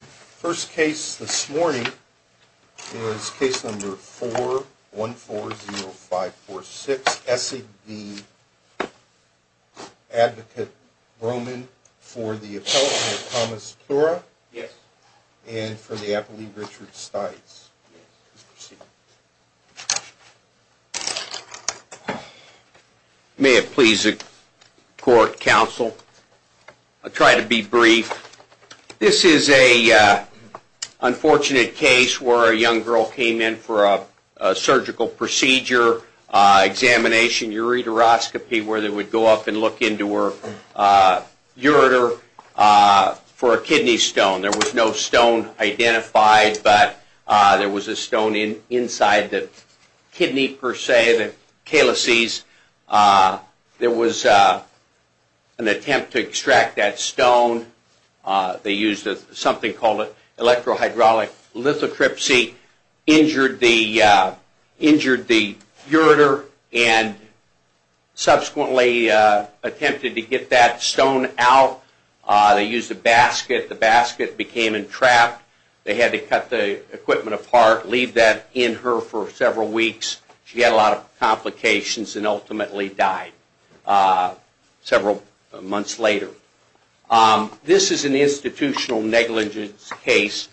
First case this morning is case number 4140546, Essig v. Advocate Bromenn for the appellate, Thomas Flora, and for the appellate, Richard Stites. May it please the court, counsel. I'll try to be brief. This is an unfortunate case where a young girl came in for a surgical procedure examination, ureteroscopy, where they would go up and look into her ureter for a kidney stone. There was no stone identified, but there was a stone inside the kidney per se, the calyces. There was an attempt to extract that stone. They used something called an electrohydraulic lithotripsy, injured the ureter, and subsequently attempted to get that stone out. They used a basket. The basket became entrapped. They had to cut the equipment apart, leave that in her for several weeks. She had a lot of complications and ultimately died several months later. This is an institutional negligence case.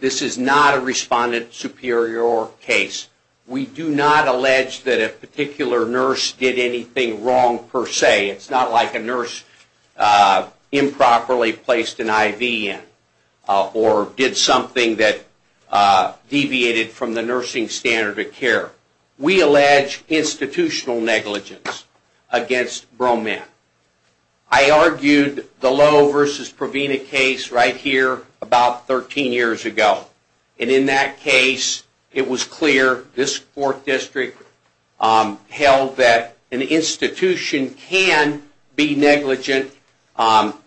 This is not a respondent superior case. We do not allege that a particular nurse did anything wrong per se. It's not like a nurse improperly placed an IV in or did something that deviated from the nursing standard of care. We allege institutional negligence against Broman. I argued the Lowe v. Provena case right here about 13 years ago. In that case, it was clear this court district held that an institution can be negligent above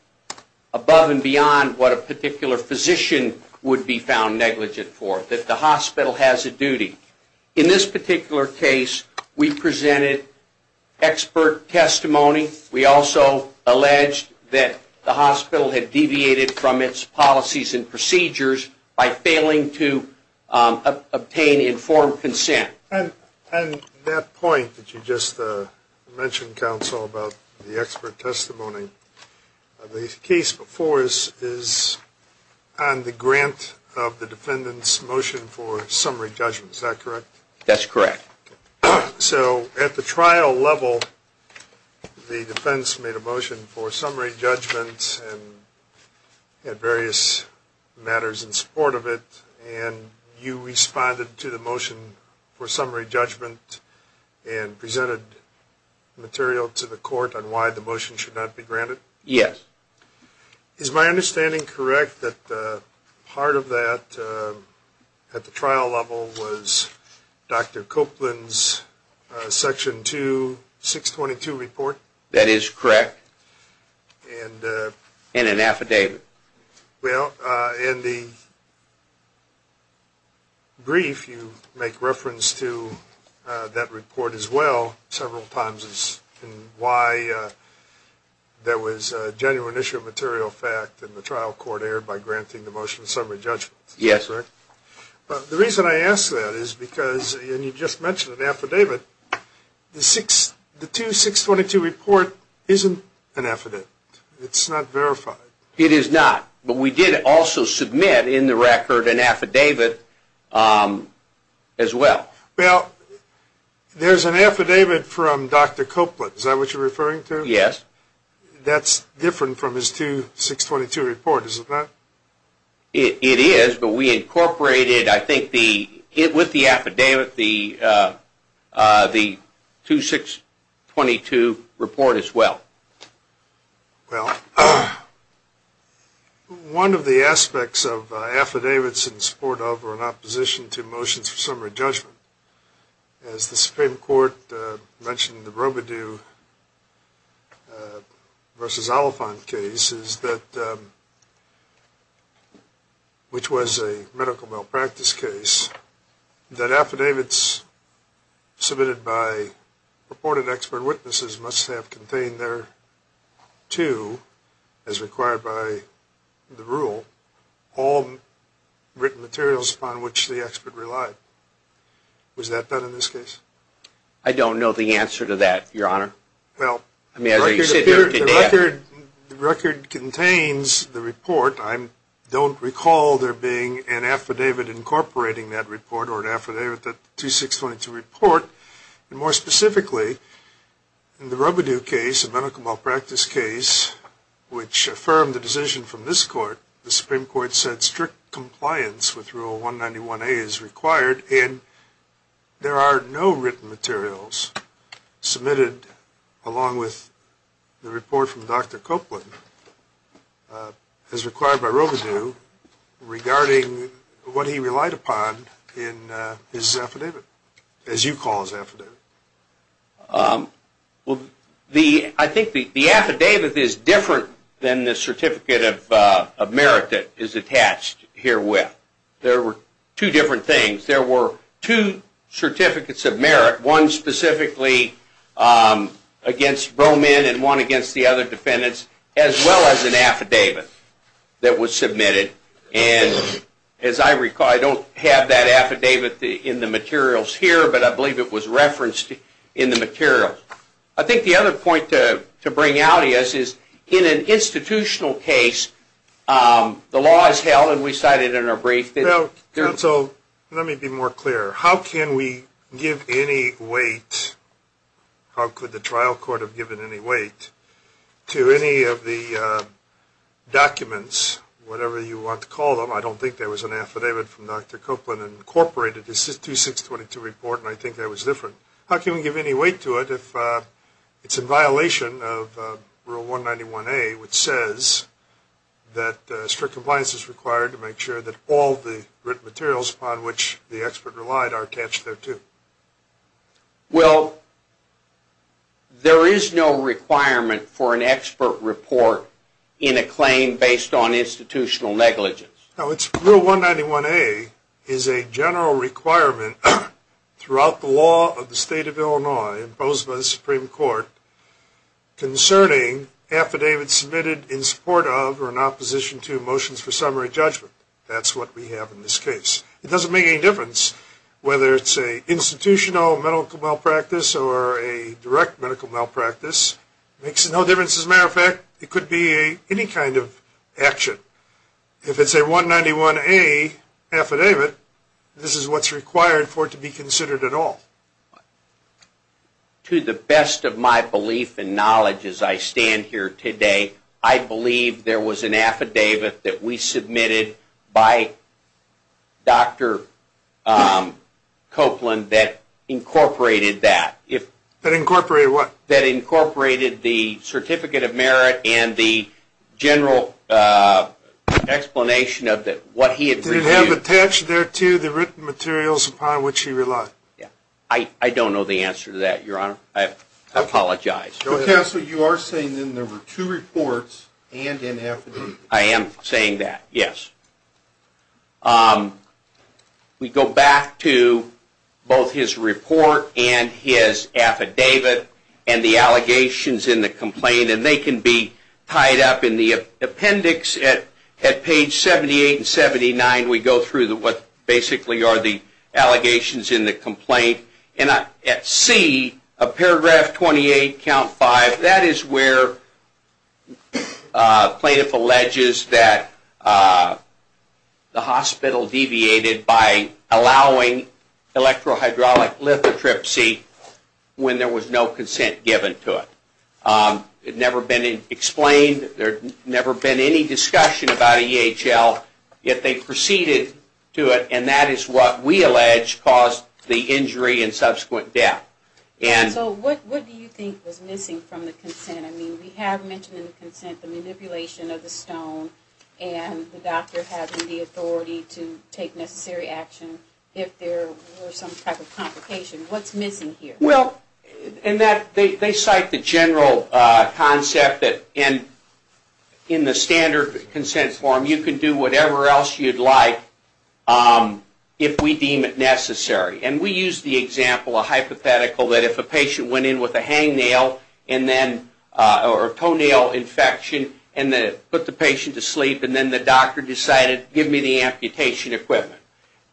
and beyond what a particular physician would be found negligent for, that the hospital has a duty. In this particular case, we presented expert testimony. We also alleged that the hospital had deviated from its policies and procedures by failing to obtain informed consent. And that point that you just mentioned, counsel, about the expert testimony, the case before us is on the grant of the defendant's motion for summary judgment. Is that correct? That's correct. So at the trial level, the defense made a motion for summary judgment and had various matters in support of it. And you responded to the motion for summary judgment and presented material to the court on why the motion should not be granted? Yes. Is my understanding correct that part of that at the trial level was Dr. Copeland's Section 2, 622 report? That is correct. And an affidavit. Well, in the brief, you make reference to that report as well several times in why there was a genuine issue of material fact and the trial court erred by granting the motion of summary judgment. Yes. But the reason I ask that is because, and you just mentioned an affidavit, the 2, 622 report isn't an affidavit. It's not verified. It is not. But we did also submit in the record an affidavit as well. Well, there's an affidavit from Dr. Copeland. Is that what you're referring to? Yes. That's different from his 2, 622 report, is it not? It is, but we incorporated, I think, with the affidavit, the 2, 622 report as well. Well, one of the aspects of affidavits in support of or in opposition to motions for summary judgment, as the Supreme Court mentioned in the Robidoux v. Oliphant case, which was a medical malpractice case, that affidavits submitted by purported expert witnesses must have contained there, too, as required by the rule, all written materials upon which the expert relied. Was that done in this case? I don't know the answer to that, Your Honor. Well, the record contains the report. I don't recall there being an affidavit incorporating that report or an affidavit that the 2, 622 report. More specifically, in the Robidoux case, a medical malpractice case, which affirmed the decision from this Court, the Supreme Court said strict compliance with Rule 191A is required, and there are no written materials submitted along with the report from Dr. Copeland, as required by Robidoux, regarding what he relied upon in his affidavit, as you call his affidavit. Well, I think the affidavit is different than the certificate of merit that is attached herewith. There were two different things. There were two certificates of merit, one specifically against Broman and one against the other defendants, as well as an affidavit that was submitted. As I recall, I don't have that affidavit in the materials here, but I believe it was referenced in the materials. I think the other point to bring out is, in an institutional case, the law is held, and we cited it in our brief. Well, counsel, let me be more clear. How can we give any weight, how could the trial court have given any weight, to any of the documents, whatever you want to call them? I don't think there was an affidavit from Dr. Copeland that incorporated the 2, 622 report, and I think that was different. How can we give any weight to it if it's in violation of Rule 191A, which says that strict compliance is required to make sure that all the written materials upon which the expert relied are attached thereto? Well, there is no requirement for an expert report in a claim based on institutional negligence. Rule 191A is a general requirement throughout the law of the State of Illinois, imposed by the Supreme Court, concerning affidavits submitted in support of or in opposition to motions for summary judgment. That's what we have in this case. It doesn't make any difference whether it's an institutional medical malpractice or a direct medical malpractice. It makes no difference. As a matter of fact, it could be any kind of action. If it's a 191A affidavit, this is what's required for it to be considered at all. To the best of my belief and knowledge as I stand here today, I believe there was an affidavit that we submitted by Dr. Copeland that incorporated that. That incorporated what? That incorporated the Certificate of Merit and the general explanation of what he had reviewed. Did it have attached thereto the written materials upon which he relied? I don't know the answer to that, Your Honor. I apologize. Counsel, you are saying there were two reports and an affidavit. I am saying that, yes. We go back to both his report and his affidavit and the allegations in the complaint. They can be tied up in the appendix at page 78 and 79. We go through what basically are the allegations in the complaint. At C, paragraph 28, count 5, that is where plaintiff alleges that the hospital deviated by allowing electrohydraulic lithotripsy when there was no consent given to it. It had never been explained. There had never been any discussion about EHL. Yet they proceeded to it and that is what we allege caused the injury and subsequent death. What do you think was missing from the consent? We have mentioned in the consent the manipulation of the stone and the doctor having the authority to take necessary action if there were some type of complication. What is missing here? They cite the general concept that in the standard consent form you can do whatever else you would like if we deem it necessary. We use the example, a hypothetical, that if a patient went in with a hangnail or toenail infection and put the patient to sleep and then the doctor decided, give me the amputation equipment.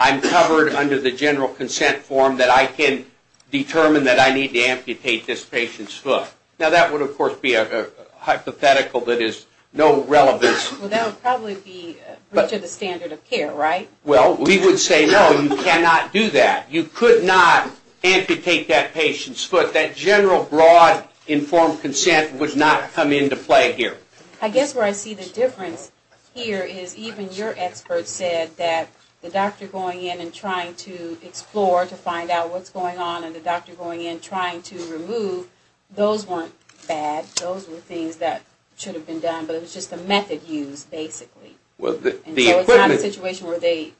I'm covered under the general consent form that I can determine that I need to amputate this patient's foot. Now that would, of course, be a hypothetical that is no relevance. Well, that would probably be breach of the standard of care, right? Well, we would say no, you cannot do that. You could not amputate that patient's foot. That general, broad, informed consent would not come into play here. I guess where I see the difference here is even your expert said that the doctor going in and trying to explore to find out what's going on, and the doctor going in trying to remove, those weren't bad. Those were things that should have been done, but it was just a method used, basically. And so it's not a situation where they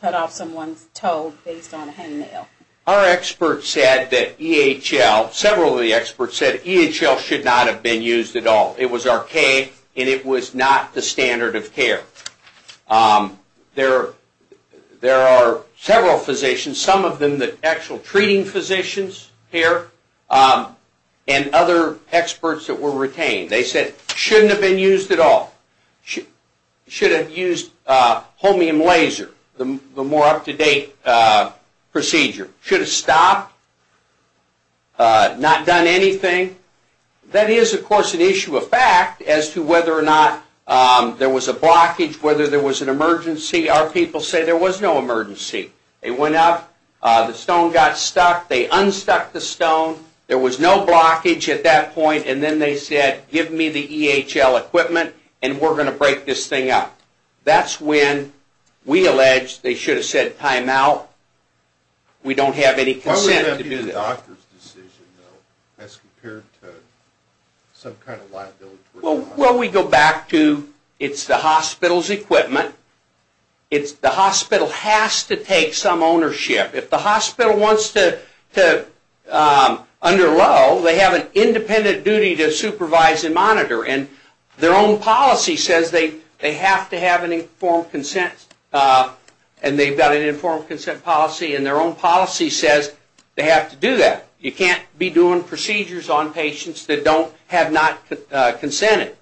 cut off someone's toe based on a hangnail. Our experts said that EHL, several of the experts said EHL should not have been used at all. It was archaic, and it was not the standard of care. There are several physicians, some of them the actual treating physicians here, and other experts that were retained. They said it shouldn't have been used at all. Should have used a homeom laser, the more up-to-date procedure. Should have stopped, not done anything. That is, of course, an issue of fact as to whether or not there was a blockage, whether there was an emergency. Our people say there was no emergency. They went up, the stone got stuck, they unstuck the stone, there was no blockage at that point, and then they said give me the EHL equipment and we're going to break this thing up. That's when we allege they should have said time out, we don't have any consent to do that. What about the doctor's decision, though, as compared to some kind of liability? Well, we go back to it's the hospital's equipment. The hospital has to take some ownership. If the hospital wants to, under Lowe, they have an independent duty to supervise and monitor, and their own policy says they have to have an informed consent, and they've got an informed consent policy, and their own policy says they have to do that. You can't be doing procedures on patients that have not consented.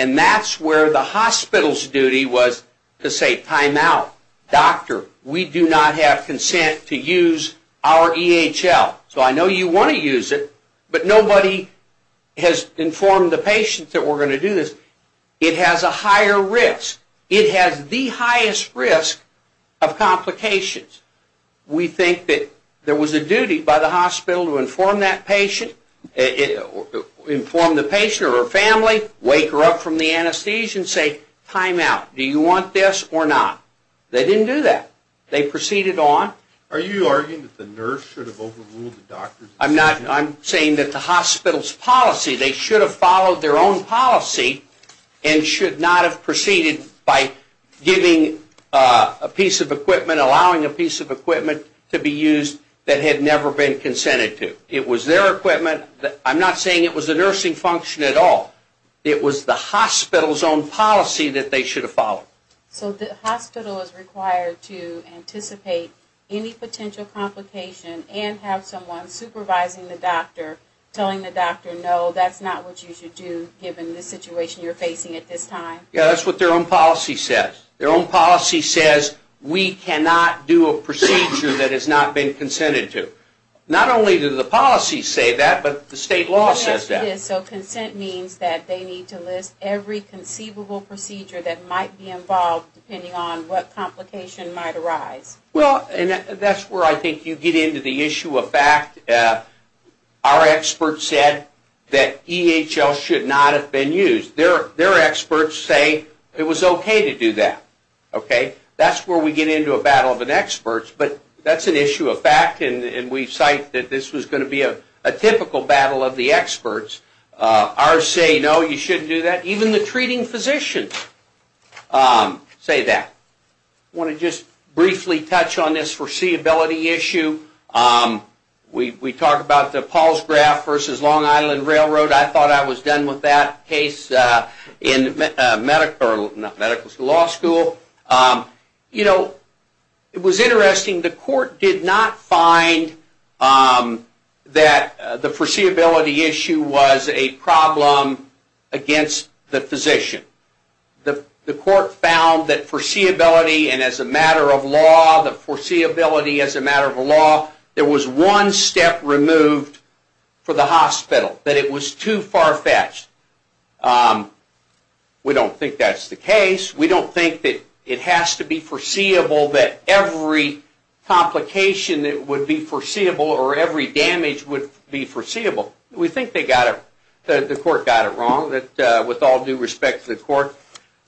And that's where the hospital's duty was to say time out. Doctor, we do not have consent to use our EHL. So I know you want to use it, but nobody has informed the patient that we're going to do this. It has a higher risk. It has the highest risk of complications. We think that there was a duty by the hospital to inform that patient, inform the patient or her family, wake her up from the anesthesia and say time out. Do you want this or not? They didn't do that. They proceeded on. Are you arguing that the nurse should have overruled the doctor's decision? I'm not. I'm saying that the hospital's policy, they should have followed their own policy and should not have proceeded by giving a piece of equipment, allowing a piece of equipment to be used that had never been consented to. It was their equipment. I'm not saying it was the nursing function at all. It was the hospital's own policy that they should have followed. So the hospital is required to anticipate any potential complication and have someone supervising the doctor telling the doctor, no, that's not what you should do given the situation you're facing at this time? Yes, that's what their own policy says. Their own policy says we cannot do a procedure that has not been consented to. Not only do the policies say that, but the state law says that. Yes, it is. So consent means that they need to list every conceivable procedure that might be involved depending on what complication might arise. Well, that's where I think you get into the issue of fact. Our experts said that EHL should not have been used. Their experts say it was okay to do that. That's where we get into a battle of experts, but that's an issue of fact, and we cite that this was going to be a typical battle of the experts. Ours say, no, you shouldn't do that. Even the treating physicians say that. I want to just briefly touch on this foreseeability issue. We talked about the Paul's graph versus Long Island Railroad. I thought I was done with that case in medical school. It was interesting. The court did not find that the foreseeability issue was a problem against the physician. The court found that foreseeability and as a matter of law, the foreseeability as a matter of law, there was one step removed for the hospital, that it was too far-fetched. We don't think that's the case. We don't think that it has to be foreseeable that every complication would be foreseeable or every damage would be foreseeable. We think the court got it wrong, with all due respect to the court.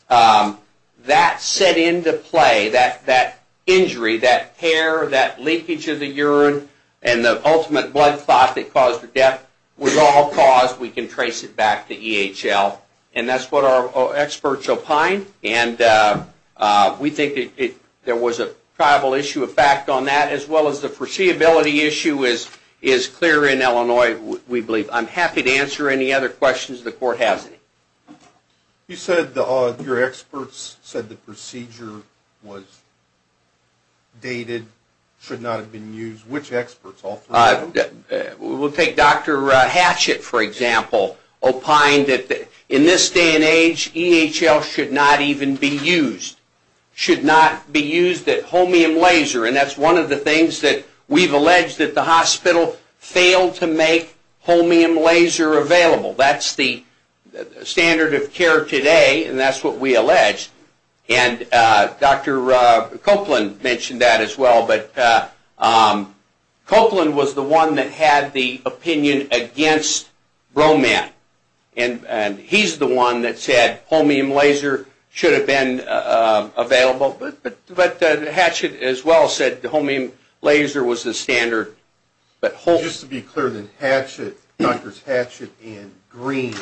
That set into play, that injury, that tear, that leakage of the urine, and the ultimate blood clot that caused the death was all caused. We can trace it back to EHL, and that's what our experts opine. We think there was a tribal issue of fact on that, as well as the foreseeability issue is clear in Illinois, we believe. I'm happy to answer any other questions the court has. You said your experts said the procedure was dated, should not have been used. Which experts? We'll take Dr. Hatchett, for example, opined that in this day and age, EHL should not even be used. Should not be used at homeom laser, and that's one of the things that we've alleged that the hospital failed to make homeom laser available. That's the standard of care today, and that's what we allege. Dr. Copeland mentioned that as well. Copeland was the one that had the opinion against Bromant, and he's the one that said homeom laser should have been available, but Hatchett as well said homeom laser was the standard. Just to be clear, then, Hatchett, Drs. Hatchett and Green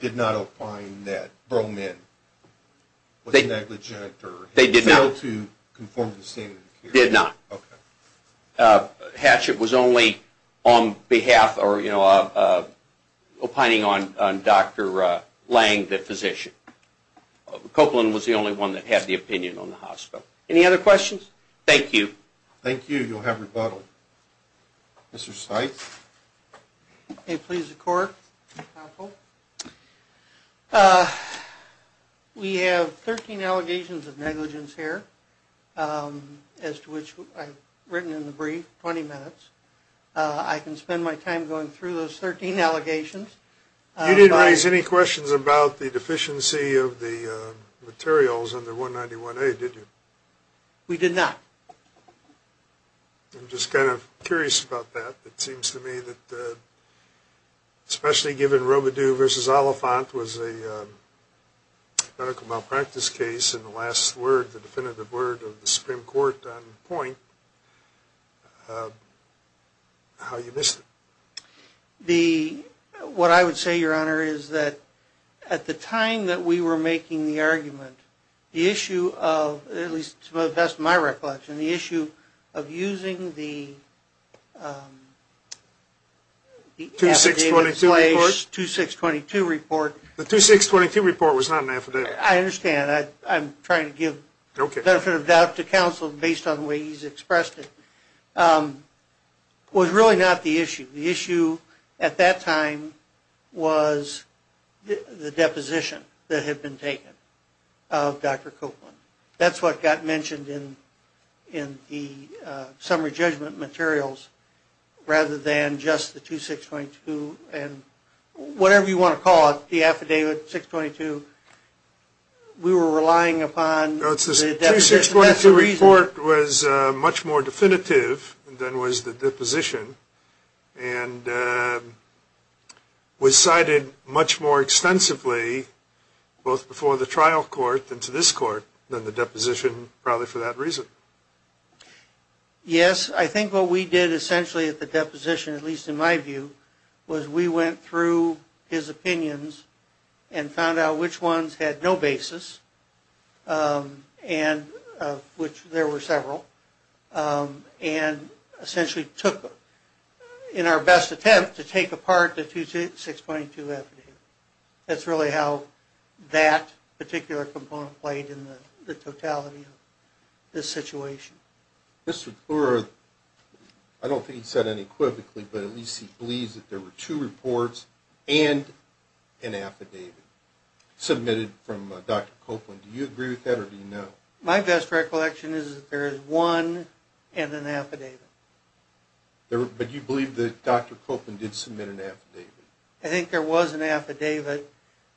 did not opine that Bromant was negligent or failed to conform to the standard of care? They did not. Hatchett was only on behalf or opining on Dr. Lange, the physician. Copeland was the only one that had the opinion on the hospital. Any other questions? Thank you. Thank you. You'll have rebuttal. Mr. Seitz? May it please the Court? We have 13 allegations of negligence here, as to which I've written in the brief, 20 minutes. I can spend my time going through those 13 allegations. You didn't raise any questions about the deficiency of the materials under 191A, did you? We did not. I'm just kind of curious about that. It seems to me that, especially given Robidoux v. Oliphant was a medical malpractice case and the last word, the definitive word of the Supreme Court on the point, how you missed it. What I would say, Your Honor, is that at the time that we were making the argument, the issue of, at least to the best of my recollection, the issue of using the affidavit in place. The 2622 report? The 2622 report. The 2622 report was not an affidavit. I understand. I'm trying to give benefit of doubt to counsel based on the way he's expressed it. It was really not the issue. The issue at that time was the deposition that had been taken of Dr. Copeland. That's what got mentioned in the summary judgment materials rather than just the 2622 and whatever you want to call it, the affidavit, 622. We were relying upon the deposition. The 2622 report was much more definitive than was the deposition and was cited much more extensively both before the trial court than to this court than the deposition probably for that reason. Yes, I think what we did essentially at the deposition, at least in my view, was we went through his opinions and found out which ones had no basis and of which there were several and essentially took them in our best attempt to take apart the 2622 affidavit. That's really how that particular component played in the totality of this situation. Mr. Kluwer, I don't think he said it equivocally, but at least he believes that there were two reports and an affidavit submitted from Dr. Copeland. Do you agree with that or do you not? My best recollection is that there is one and an affidavit. But you believe that Dr. Copeland did submit an affidavit? I think there was an affidavit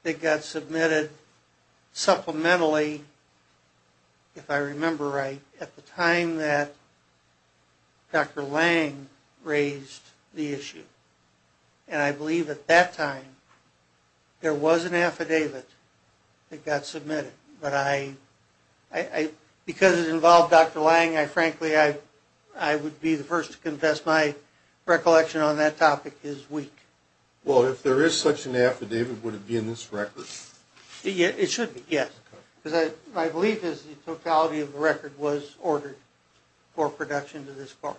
that got submitted supplementally, if I remember right, at the time that Dr. Lang raised the issue. And I believe at that time there was an affidavit that got submitted. But because it involved Dr. Lang, frankly, I would be the first to confess my recollection on that topic is weak. Well, if there is such an affidavit, would it be in this record? It should be, yes. Because my belief is the totality of the record was ordered for production to this part.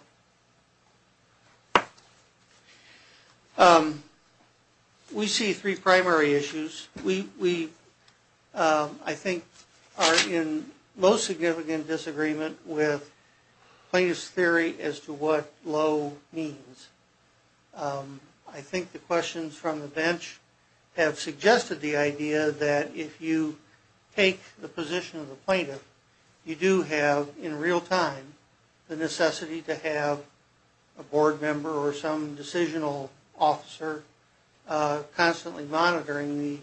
We see three primary issues. We, I think, are in low significant disagreement with plaintiff's theory as to what low means. I think the questions from the bench have suggested the idea that if you take the position of the plaintiff, you do have in real time the necessity to have a board member or some decisional officer constantly monitoring the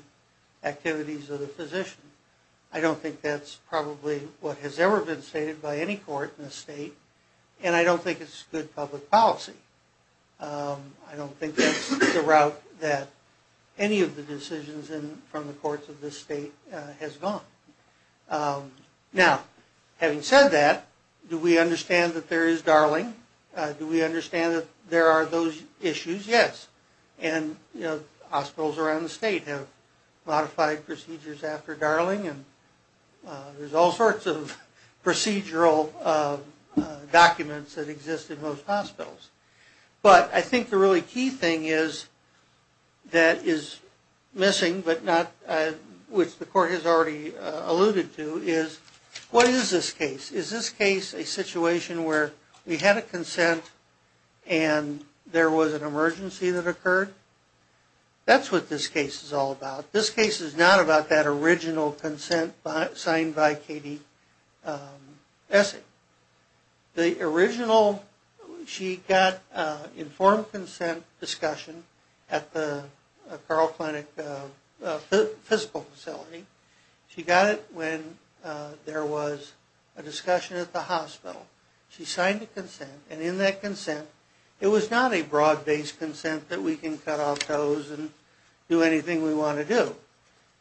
activities of the physician. I don't think that's probably what has ever been stated by any court in the state, and I don't think it's good public policy. I don't think that's the route that any of the decisions from the courts of this state has gone. Now, having said that, do we understand that there is Darling? Do we understand that there are those issues? Yes. And, you know, hospitals around the state have modified procedures after Darling, and there's all sorts of procedural documents that exist in most hospitals. But I think the really key thing is that is missing, but not which the court has already alluded to, is what is this case? Is this case a situation where we had a consent and there was an emergency that occurred? That's what this case is all about. This case is not about that original consent signed by Katie Essig. The original, she got informed consent discussion at the Carl Clinic physical facility. She got it when there was a discussion at the hospital. She signed the consent, and in that consent it was not a broad-based consent that we can cut off toes and do anything we want to do.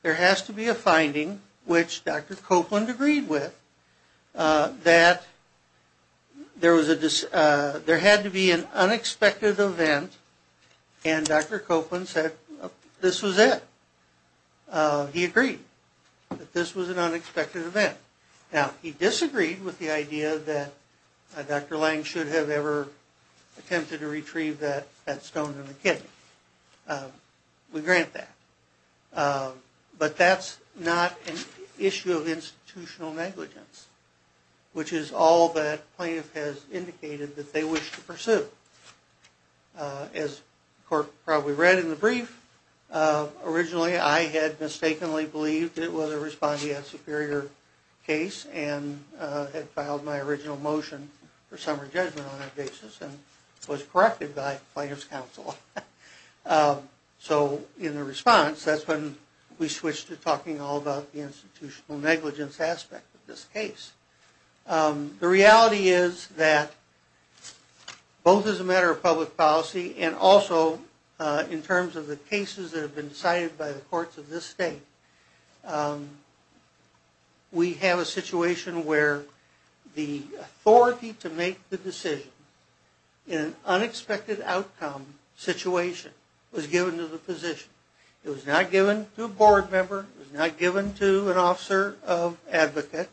There has to be a finding, which Dr. Copeland agreed with, that there had to be an unexpected event, and Dr. Copeland said this was it. He agreed that this was an unexpected event. Now, he disagreed with the idea that Dr. Lange should have ever attempted to retrieve that stone in the kidney. We grant that. But that's not an issue of institutional negligence, which is all that plaintiff has indicated that they wish to pursue. As the court probably read in the brief, originally I had mistakenly believed it was a respondeat superior case and had filed my original motion for summary judgment on that basis and was corrected by plaintiff's counsel. So in the response, that's when we switched to talking all about the institutional negligence aspect of this case. The reality is that both as a matter of public policy and also in terms of the cases that have been decided by the courts of this state, we have a situation where the authority to make the decision in an unexpected outcome situation was given to the physician. It was not given to a board member. It was not given to an officer of advocate.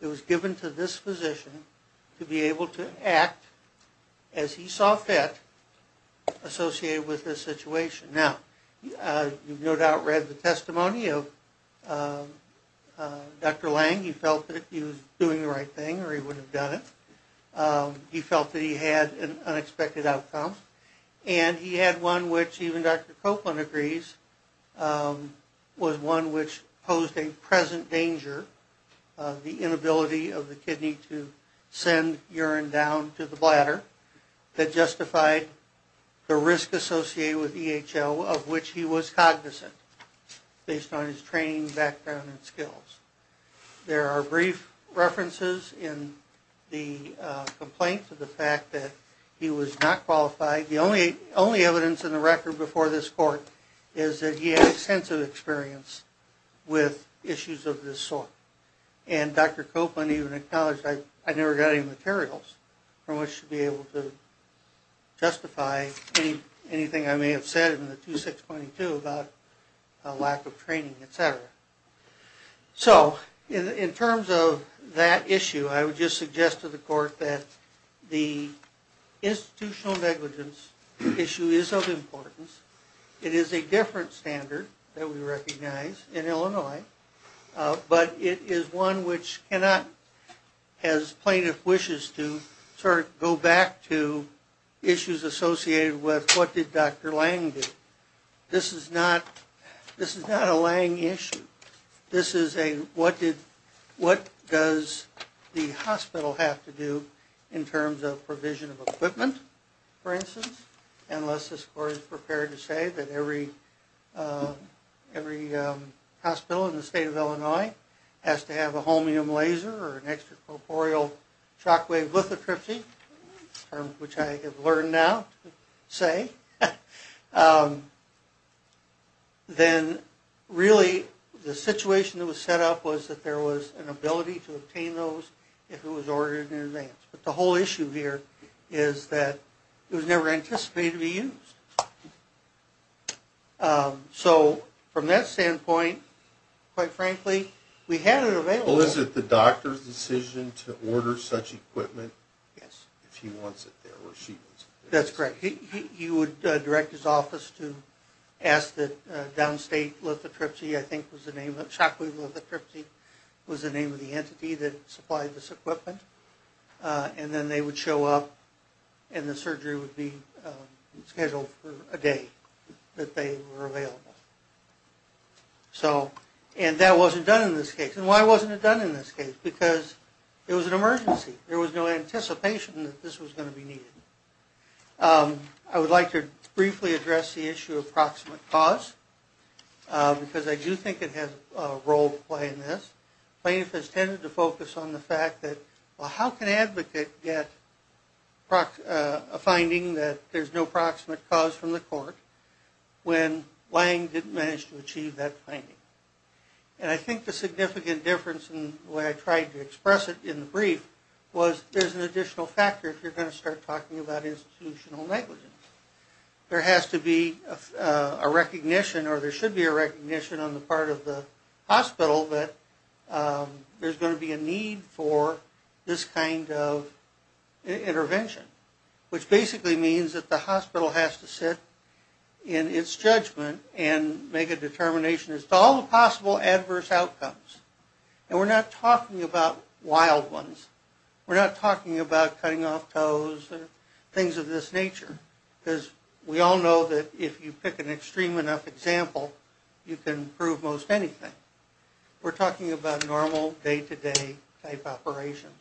It was given to this physician to be able to act as he saw fit associated with this situation. Now, you've no doubt read the testimony of Dr. Lange. He felt that he was doing the right thing or he wouldn't have done it. He felt that he had an unexpected outcome. And he had one which even Dr. Copeland agrees was one which posed a present danger, the inability of the kidney to send urine down to the bladder that justified the risk associated with EHL of which he was cognizant based on his training, background, and skills. There are brief references in the complaint to the fact that he was not qualified. The only evidence in the record before this court is that he had extensive experience with issues of this sort. And Dr. Copeland even acknowledged, I never got any materials from which to be able to justify anything I may have said in the 2622 about a lack of training, etc. So, in terms of that issue, I would just suggest to the court that the institutional negligence issue is of importance. It is a different standard that we recognize in Illinois. But it is one which cannot, as plaintiff wishes to, sort of go back to issues associated with what did Dr. Lange do. This is not a Lange issue. This is a what does the hospital have to do in terms of provision of equipment, for instance, unless this court is prepared to say that every hospital in the state of Illinois has to have a holmium laser or an extracorporeal shockwave lithotripsy, a term which I have learned now to say. Then, really, the situation that was set up was that there was an ability to obtain those if it was ordered in advance. But the whole issue here is that it was never anticipated to be used. So, from that standpoint, quite frankly, we had it available. Well, is it the doctor's decision to order such equipment? Yes. If he wants it there or she wants it there. That's correct. He would direct his office to ask the downstate lithotripsy, I think was the name, shockwave lithotripsy was the name of the entity that supplied this equipment. And then they would show up and the surgery would be scheduled for a day that they were available. So, and that wasn't done in this case. And why wasn't it done in this case? Because it was an emergency. There was no anticipation that this was going to be needed. I would like to briefly address the issue of proximate cause because I do think it has a role to play in this. Plaintiff has tended to focus on the fact that, well, how can an advocate get a finding that there's no proximate cause from the court when Lange didn't manage to achieve that finding? And I think the significant difference in the way I tried to express it in the brief was there's an additional factor if you're going to start talking about institutional negligence. There has to be a recognition or there should be a recognition on the part of the hospital that there's going to be a need for this kind of intervention, which basically means that the hospital has to sit in its judgment and make a determination as to all the possible adverse outcomes. And we're not talking about wild ones. We're not talking about cutting off toes and things of this nature because we all know that if you pick an extreme enough example, you can prove most anything. We're talking about normal day-to-day type operations.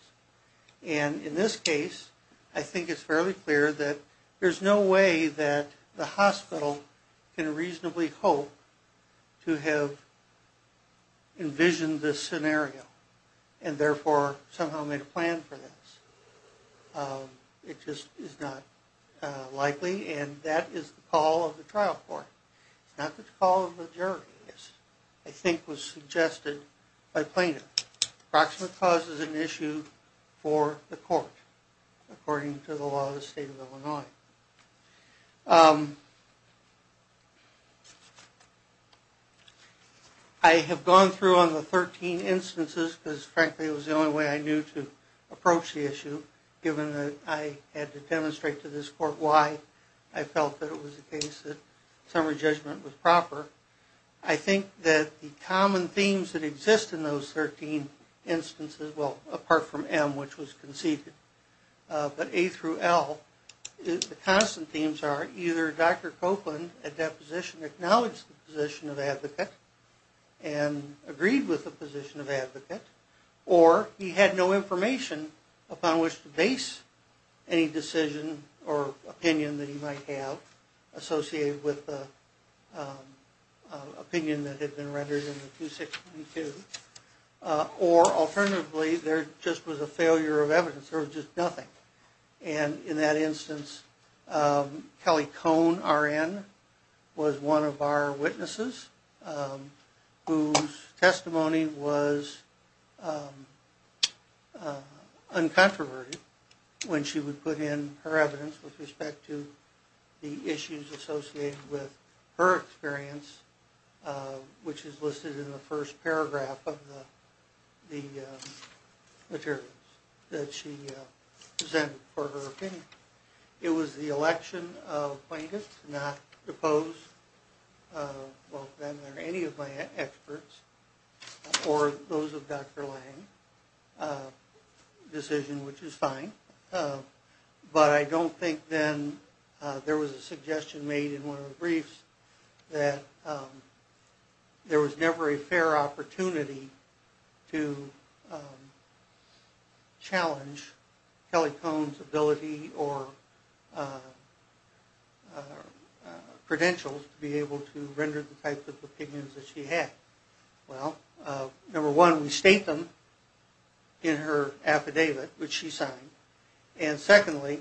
And in this case, I think it's fairly clear that there's no way that the hospital can reasonably hope to have envisioned this scenario and therefore somehow made a plan for this. It just is not likely, and that is the call of the trial court. It's not the call of the jury, I think was suggested by plaintiff. Proximate cause is an issue for the court according to the law of the state of Illinois. I have gone through on the 13 instances because, frankly, it was the only way I knew to approach the issue, given that I had to demonstrate to this court why I felt that it was the case that summary judgment was proper. I think that the common themes that exist in those 13 instances, well, apart from M, which was conceded, but A through L, the constant themes are either Dr. Copeland, at that position, acknowledged the position of advocate and agreed with the position of advocate, or he had no information upon which to base any decision or opinion that he might have associated with the opinion that had been rendered in the 2622, or alternatively, there just was a failure of evidence. There was just nothing. And in that instance, Kelly Cohn, R.N., was one of our witnesses whose testimony was uncontroverted when she would put in her evidence with respect to the issues associated with her experience, which is listed in the first paragraph of the materials that she presented for her opinion. It was the election of plaintiffs, not proposed by them or any of my experts, or those of Dr. Lange's decision, which is fine, but I don't think then there was a suggestion made in one of the briefs that there was never a fair opportunity to challenge Kelly Cohn's ability or credentials to be able to render the types of opinions that she had. Well, number one, we state them in her affidavit, which she signed, and secondly,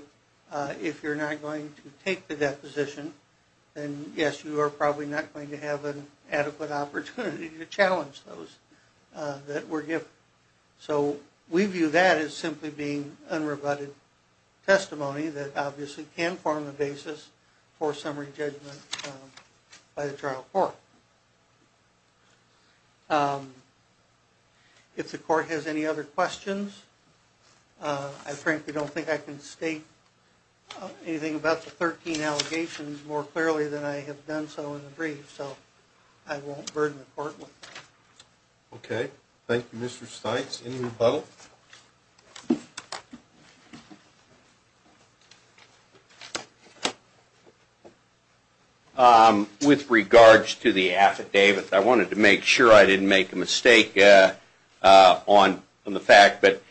if you're not going to take the deposition, then yes, you are probably not going to have an adequate opportunity to challenge those that were given. So we view that as simply being unrebutted testimony that obviously can form the basis for summary judgment by the trial court. If the court has any other questions, I frankly don't think I can state anything about the 13 allegations more clearly than I have done so in the brief, so I won't burden the court with that. Okay. Thank you, Mr. Steitz. Any rebuttal? With regards to the affidavit, I wanted to make sure I didn't make a mistake on the fact that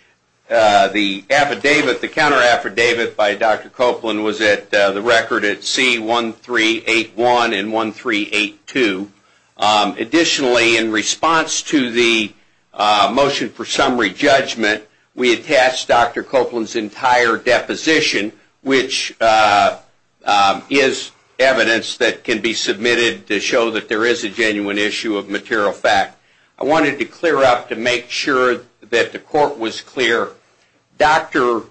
the affidavit, the counter affidavit by Dr. Copeland was the record at C1381 and 1382. Additionally, in response to the motion for summary judgment, we attached Dr. Copeland's entire deposition, which is evidence that can be submitted to show that there is a genuine issue of material fact. I wanted to clear up to make sure that the court was clear. Dr.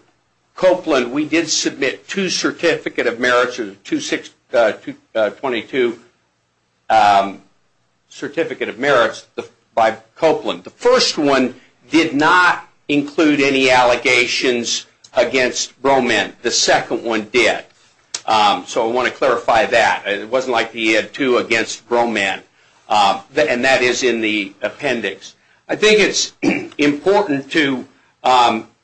Copeland, we did submit two Certificate of Merits, 222 Certificate of Merits by Copeland. The first one did not include any allegations against Broman. The second one did. So I want to clarify that. It wasn't like he had two against Broman, and that is in the appendix. I think it's important to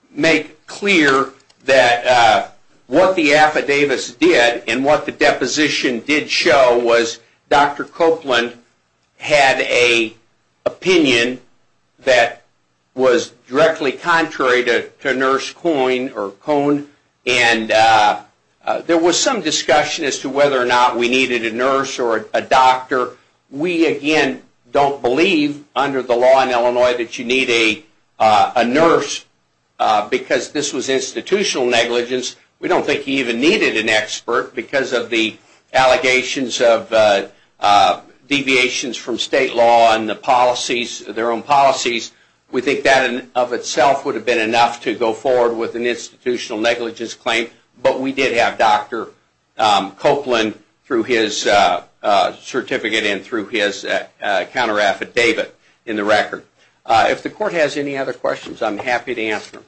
make clear that what the affidavits did and what the deposition did show was Dr. Copeland had an opinion that was directly contrary to Nurse Cohn. There was some discussion as to whether or not we needed a nurse or a doctor. We, again, don't believe under the law in Illinois that you need a nurse because this was institutional negligence. We don't think he even needed an expert because of the allegations of deviations from state law and their own policies. We think that in and of itself would have been enough to go forward with an institutional negligence claim, but we did have Dr. Copeland through his certificate and through his counter affidavit in the record. If the court has any other questions, I'm happy to answer them.